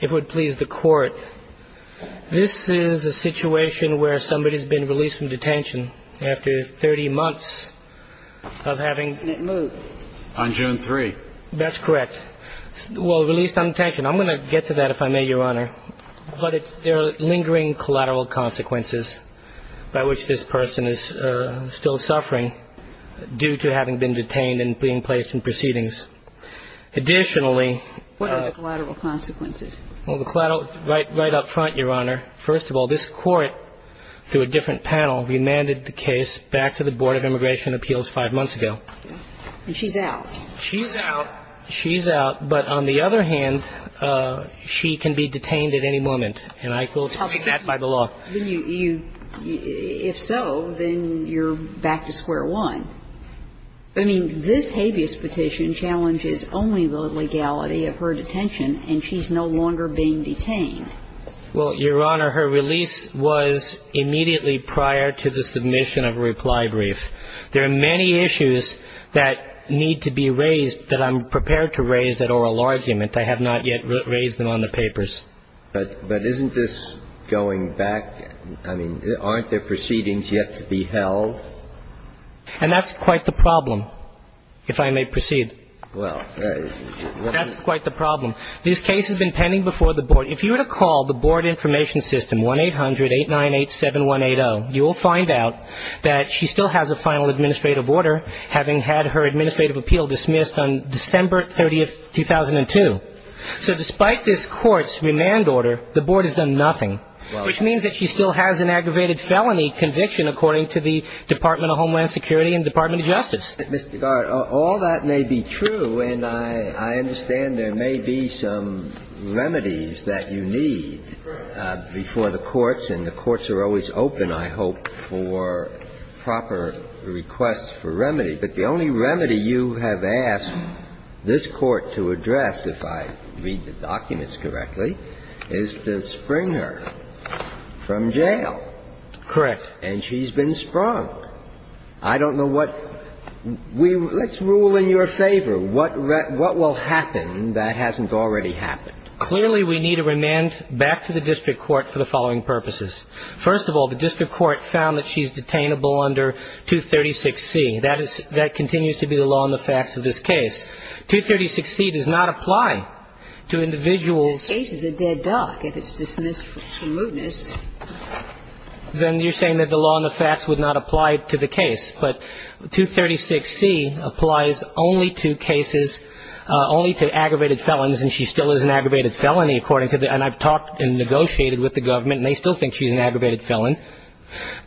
If it would please the Court, this is a situation where somebody has been released from detention after 30 months of having... Isn't it moved? On June 3. That's correct. Well, released on detention. I'm going to get to that, if I may, Your Honor. But there are lingering collateral consequences by which this person is still suffering due to having been detained and being placed in proceedings. Additionally... What are the collateral consequences? Well, the collateral... Right up front, Your Honor, first of all, this Court, through a different panel, remanded the case back to the Board of Immigration Appeals five months ago. And she's out. She's out. She's out. But on the other hand, she can be detained at any moment. And I will take that by the law. If so, then you're back to square one. I mean, this habeas petition challenges only the legality of her detention, and she's no longer being detained. Well, Your Honor, her release was immediately prior to the submission of a reply brief. There are many issues that need to be raised that I'm prepared to raise at oral argument. I have not yet raised them on the papers. But isn't this going back? I mean, aren't there proceedings yet to be held? And that's quite the problem, if I may proceed. Well, let me... That's quite the problem. This case has been pending before the Board. If you were to call the Board Information System, 1-800-898-7180, you will find out that she still has a final administrative order, having had her administrative appeal dismissed on December 30, 2002. So despite this court's remand order, the Board has done nothing, which means that she still has an aggravated felony conviction, according to the Department of Homeland Security and Department of Justice. Mr. Garrett, all that may be true, and I understand there may be some remedies that you need before the courts, and the courts are always open, I hope, for proper requests for remedy. But the only remedy you have asked this Court to address, if I read the documents correctly, is to spring her from jail. Correct. And she's been sprung. I don't know what we – let's rule in your favor. What will happen that hasn't already happened? Clearly, we need a remand back to the district court for the following purposes. First of all, the district court found that she's detainable under 236C. That is – that continues to be the law and the facts of this case. 236C does not apply to individuals. This case is a dead duck if it's dismissed for smoothness. Then you're saying that the law and the facts would not apply to the case. But 236C applies only to cases – only to aggravated felons, and she still is an aggravated felony, according to the – and I've talked and negotiated with the government, and they still think she's an aggravated felon.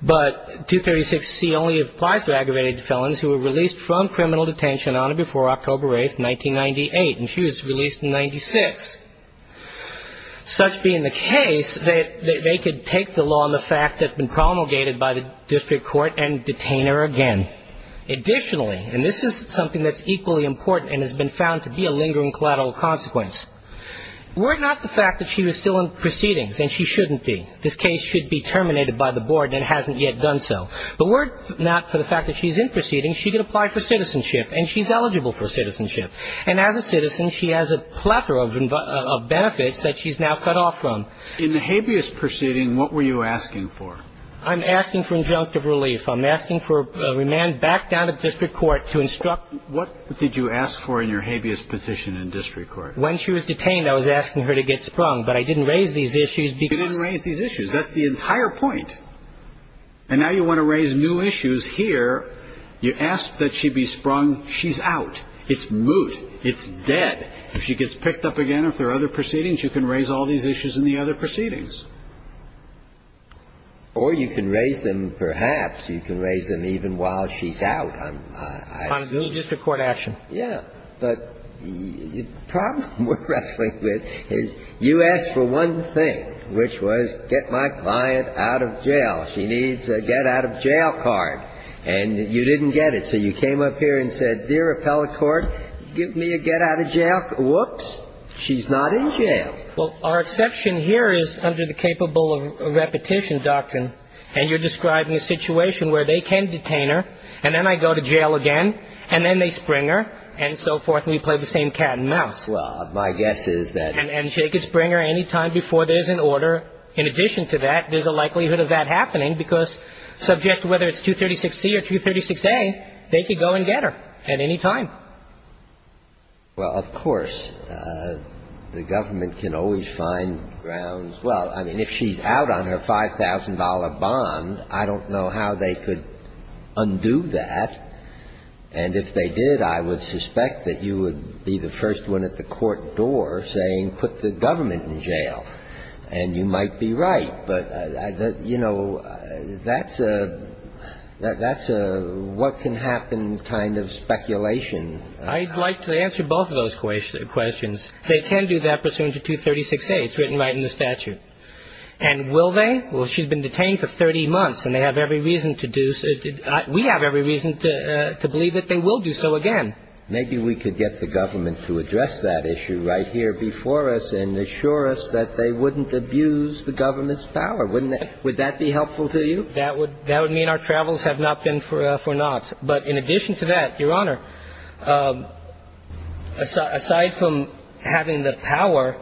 But 236C only applies to aggravated felons who were released from criminal detention on or before October 8th, 1998. And she was released in 96. Such being the case, they could take the law and the fact that's been promulgated by the district court and detain her again. Additionally – and this is something that's equally important and has been found to be a lingering collateral consequence. Were it not for the fact that she was still in proceedings – and she shouldn't be. This case should be terminated by the board and hasn't yet done so. But were it not for the fact that she's in proceedings, she could apply for citizenship. And she's eligible for citizenship. And as a citizen, she has a plethora of benefits that she's now cut off from. In the habeas proceeding, what were you asking for? I'm asking for injunctive relief. I'm asking for remand back down to district court to instruct – What did you ask for in your habeas position in district court? When she was detained, I was asking her to get sprung. But I didn't raise these issues because – You didn't raise these issues. That's the entire point. And now you want to raise new issues here. You ask that she be sprung. She's out. It's moot. It's dead. If she gets picked up again, if there are other proceedings, you can raise all these issues in the other proceedings. Or you can raise them perhaps. You can raise them even while she's out. On a moot district court action. Yeah. But the problem we're wrestling with is you asked for one thing, which was get my client out of jail. She needs a get-out-of-jail card. And you didn't get it. So you came up here and said, dear appellate court, give me a get-out-of-jail – whoops, she's not in jail. Well, our exception here is under the capable repetition doctrine. And you're describing a situation where they can detain her and then I go to jail again and then they spring her and so forth and we play the same cat and mouse. Well, my guess is that – And she could spring her any time before there's an order. In addition to that, there's a likelihood of that happening because subject to whether it's 236-C or 236-A, they could go and get her at any time. Well, of course. The government can always find grounds. Well, I mean, if she's out on her $5,000 bond, I don't know how they could undo that. And if they did, I would suspect that you would be the first one at the court door saying put the government in jail. And you might be right. But, you know, that's a what-can-happen kind of speculation. I'd like to answer both of those questions. They can do that pursuant to 236-A. It's written right in the statute. And will they? Well, she's been detained for 30 months and they have every reason to do – we have every reason to believe that they will do so again. And maybe we could get the government to address that issue right here before us and assure us that they wouldn't abuse the government's power, wouldn't they? Would that be helpful to you? That would mean our travels have not been for naught. But in addition to that, Your Honor, aside from having the power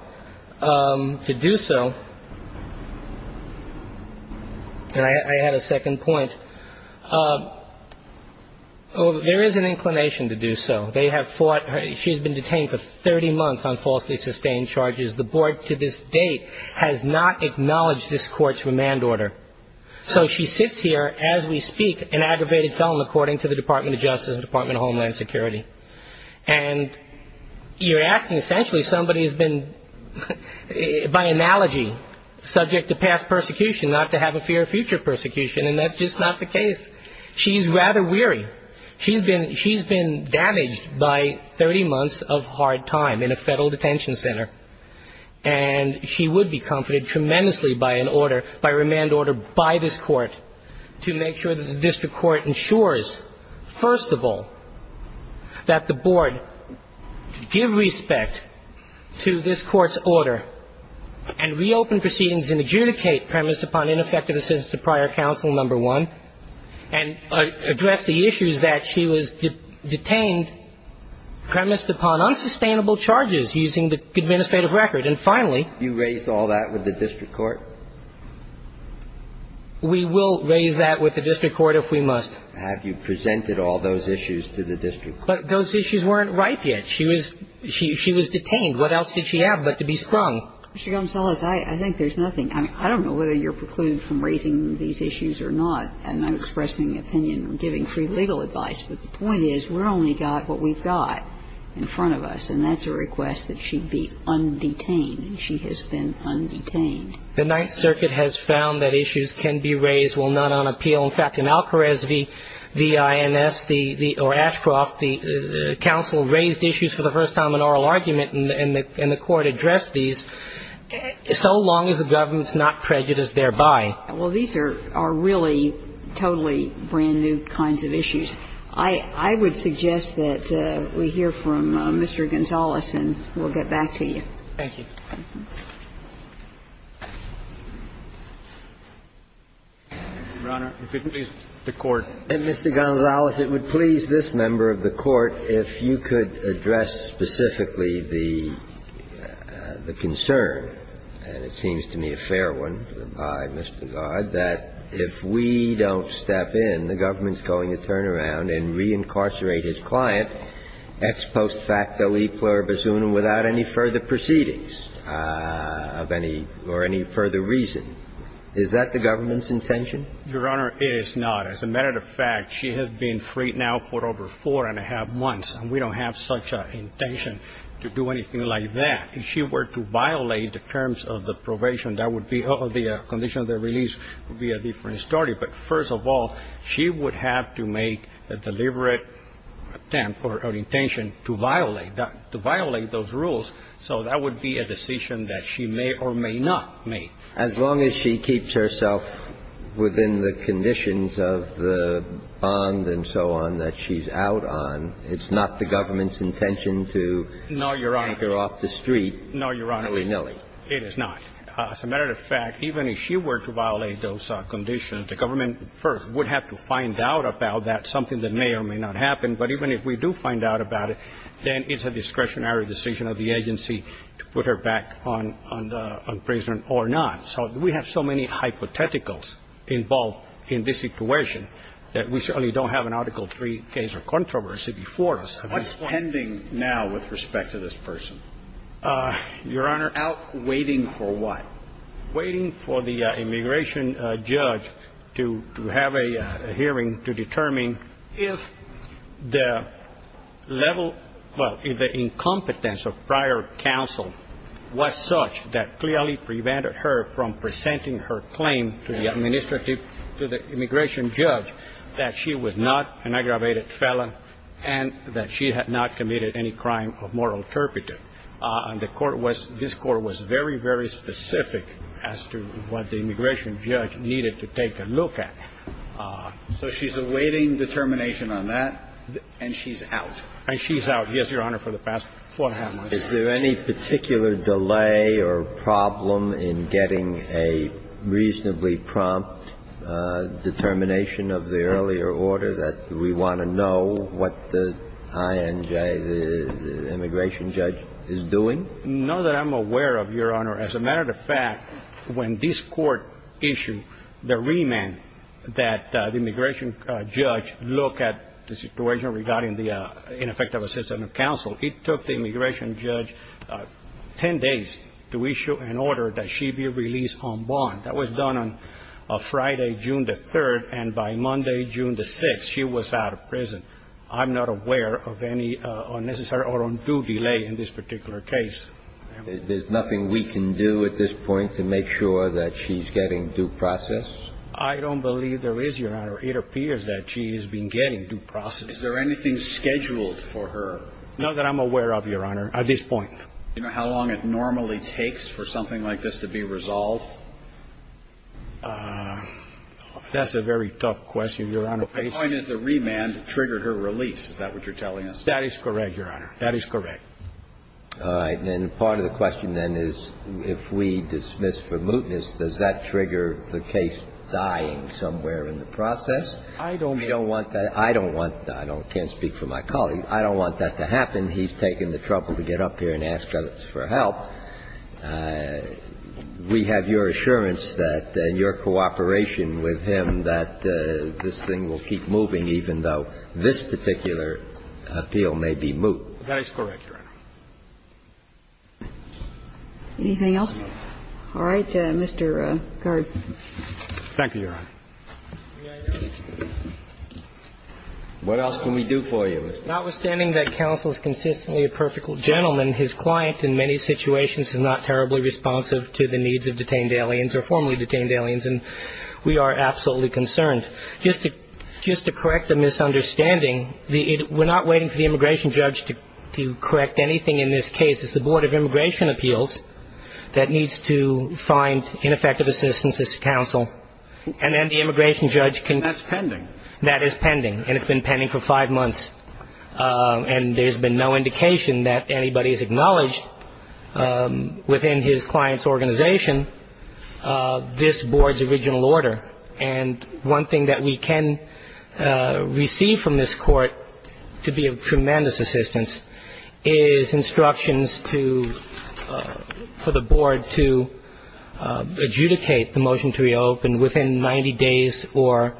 to do so, and I had a second point, there is an inclination to do so. They have fought – she has been detained for 30 months on falsely sustained charges. The board to this date has not acknowledged this court's remand order. So she sits here as we speak, an aggravated felon, according to the Department of Justice and Department of Homeland Security. And you're asking essentially somebody who's been, by analogy, subject to past persecution, not to have a fear of future persecution. And that's just not the case. She's rather weary. She's been damaged by 30 months of hard time in a federal detention center. And she would be comforted tremendously by an order, by a remand order by this court, to make sure that the district court ensures, first of all, that the board give respect to this court's order and reopen proceedings and adjudicate premised upon ineffective assistance of prior counsel, number one, and address the issues that she was detained, premised upon unsustainable charges using the administrative record. And finally – You raised all that with the district court? We will raise that with the district court if we must. Have you presented all those issues to the district court? Those issues weren't ripe yet. She was detained. What else did she have but to be sprung? Mr. Gomes-Ellis, I think there's nothing – I don't know whether you're precluded from raising these issues or not. I'm not expressing opinion or giving free legal advice. But the point is we've only got what we've got in front of us, and that's a request that she be undetained, and she has been undetained. The Ninth Circuit has found that issues can be raised while not on appeal. In fact, in Alcarez v. INS, or Ashcroft, the counsel raised issues for the first time in oral argument, and the court addressed these, so long as the government's not prejudiced thereby. Well, these are really totally brand-new kinds of issues. I would suggest that we hear from Mr. Gomes-Ellis, and we'll get back to you. Thank you. Your Honor, if it please the Court. And, Mr. Gomes-Ellis, it would please this member of the Court, if you could address specifically the concern, and it seems to me a fair one by Mr. Godd, that if we don't step in, the government's going to turn around and reincarcerate his client, ex post facto e pluribus unum, without any further proceedings of any – or any further reason. Is that the government's intention? Your Honor, it is not. As a matter of fact, she has been freed now for over four and a half months, and we don't have such an intention to do anything like that. If she were to violate the terms of the probation, that would be – or the condition of the release would be a different story. But first of all, she would have to make a deliberate attempt or intention to violate that – to violate those rules. So that would be a decision that she may or may not make. As long as she keeps herself within the conditions of the bond and so on that she's out on, it's not the government's intention to take her off the street. No, Your Honor. No, Your Honor. It is not. As a matter of fact, even if she were to violate those conditions, the government first would have to find out about that, something that may or may not happen. But even if we do find out about it, then it's a discretionary decision of the agency to put her back on prison or not. So we have so many hypotheticals involved in this situation that we certainly don't have an Article III case of controversy before us. What's pending now with respect to this person? Your Honor? Out waiting for what? Waiting for the immigration judge to have a hearing to determine if the level – well, if the incompetence of prior counsel was such that clearly prevented her from presenting her claim to the administrative – to the immigration judge that she was not an aggravated felon and that she had not committed any crime of moral turpitude. And the Court was – this Court was very, very specific as to what the immigration judge needed to take a look at. So she's awaiting determination on that, and she's out. And she's out. Yes, Your Honor, for the past four and a half months. Is there any particular delay or problem in getting a reasonably prompt determination of the earlier order that we want to know what the INJ, the immigration judge, is doing? No, that I'm aware of, Your Honor. As a matter of fact, when this Court issued the remand that the immigration judge look at the situation regarding the ineffective assistance of counsel, it took the immigration judge 10 days to issue an order that she be released on bond. That was done on Friday, June the 3rd, and by Monday, June the 6th, she was out of prison. I'm not aware of any unnecessary or undue delay in this particular case. There's nothing we can do at this point to make sure that she's getting due process? I don't believe there is, Your Honor. It appears that she has been getting due process. Is there anything scheduled for her? Not that I'm aware of, Your Honor, at this point. Do you know how long it normally takes for something like this to be resolved? That's a very tough question, Your Honor. My point is the remand triggered her release. Is that what you're telling us? That is correct, Your Honor. That is correct. All right. And part of the question then is, if we dismiss for mootness, does that trigger the case dying somewhere in the process? I don't want that. I don't want that. I can't speak for my colleague. I don't want that to happen. He's taken the trouble to get up here and ask us for help. We have your assurance that, in your cooperation with him, that this thing will keep moving, even though this particular appeal may be moot. That is correct, Your Honor. Anything else? All right. Mr. Gard. Thank you, Your Honor. What else can we do for you? Notwithstanding that counsel is consistently a perfect gentleman, his client in many situations is not terribly responsive to the needs of detained aliens or formerly detained aliens, and we are absolutely concerned. Just to correct a misunderstanding, we're not waiting for the immigration judge to correct anything in this case. It's the Board of Immigration Appeals that needs to find ineffective assistance, this counsel, and then the immigration judge can. That's pending. That is pending, and it's been pending for five months. And there's been no indication that anybody has acknowledged within his client's organization this Board's original order. And one thing that we can receive from this court, to be of tremendous assistance, is instructions to the Board to adjudicate the motion to reopen within 90 days or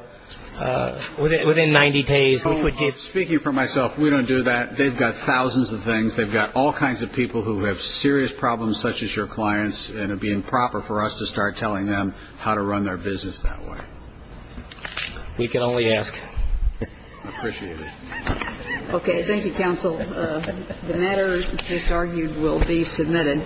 within 90 days, which would give. Speaking for myself, we don't do that. They've got thousands of things. They've got all kinds of people who have serious problems, such as your clients, for us to start telling them how to run their business that way. We can only ask. I appreciate it. Okay. Thank you, counsel. The matter just argued will be submitted.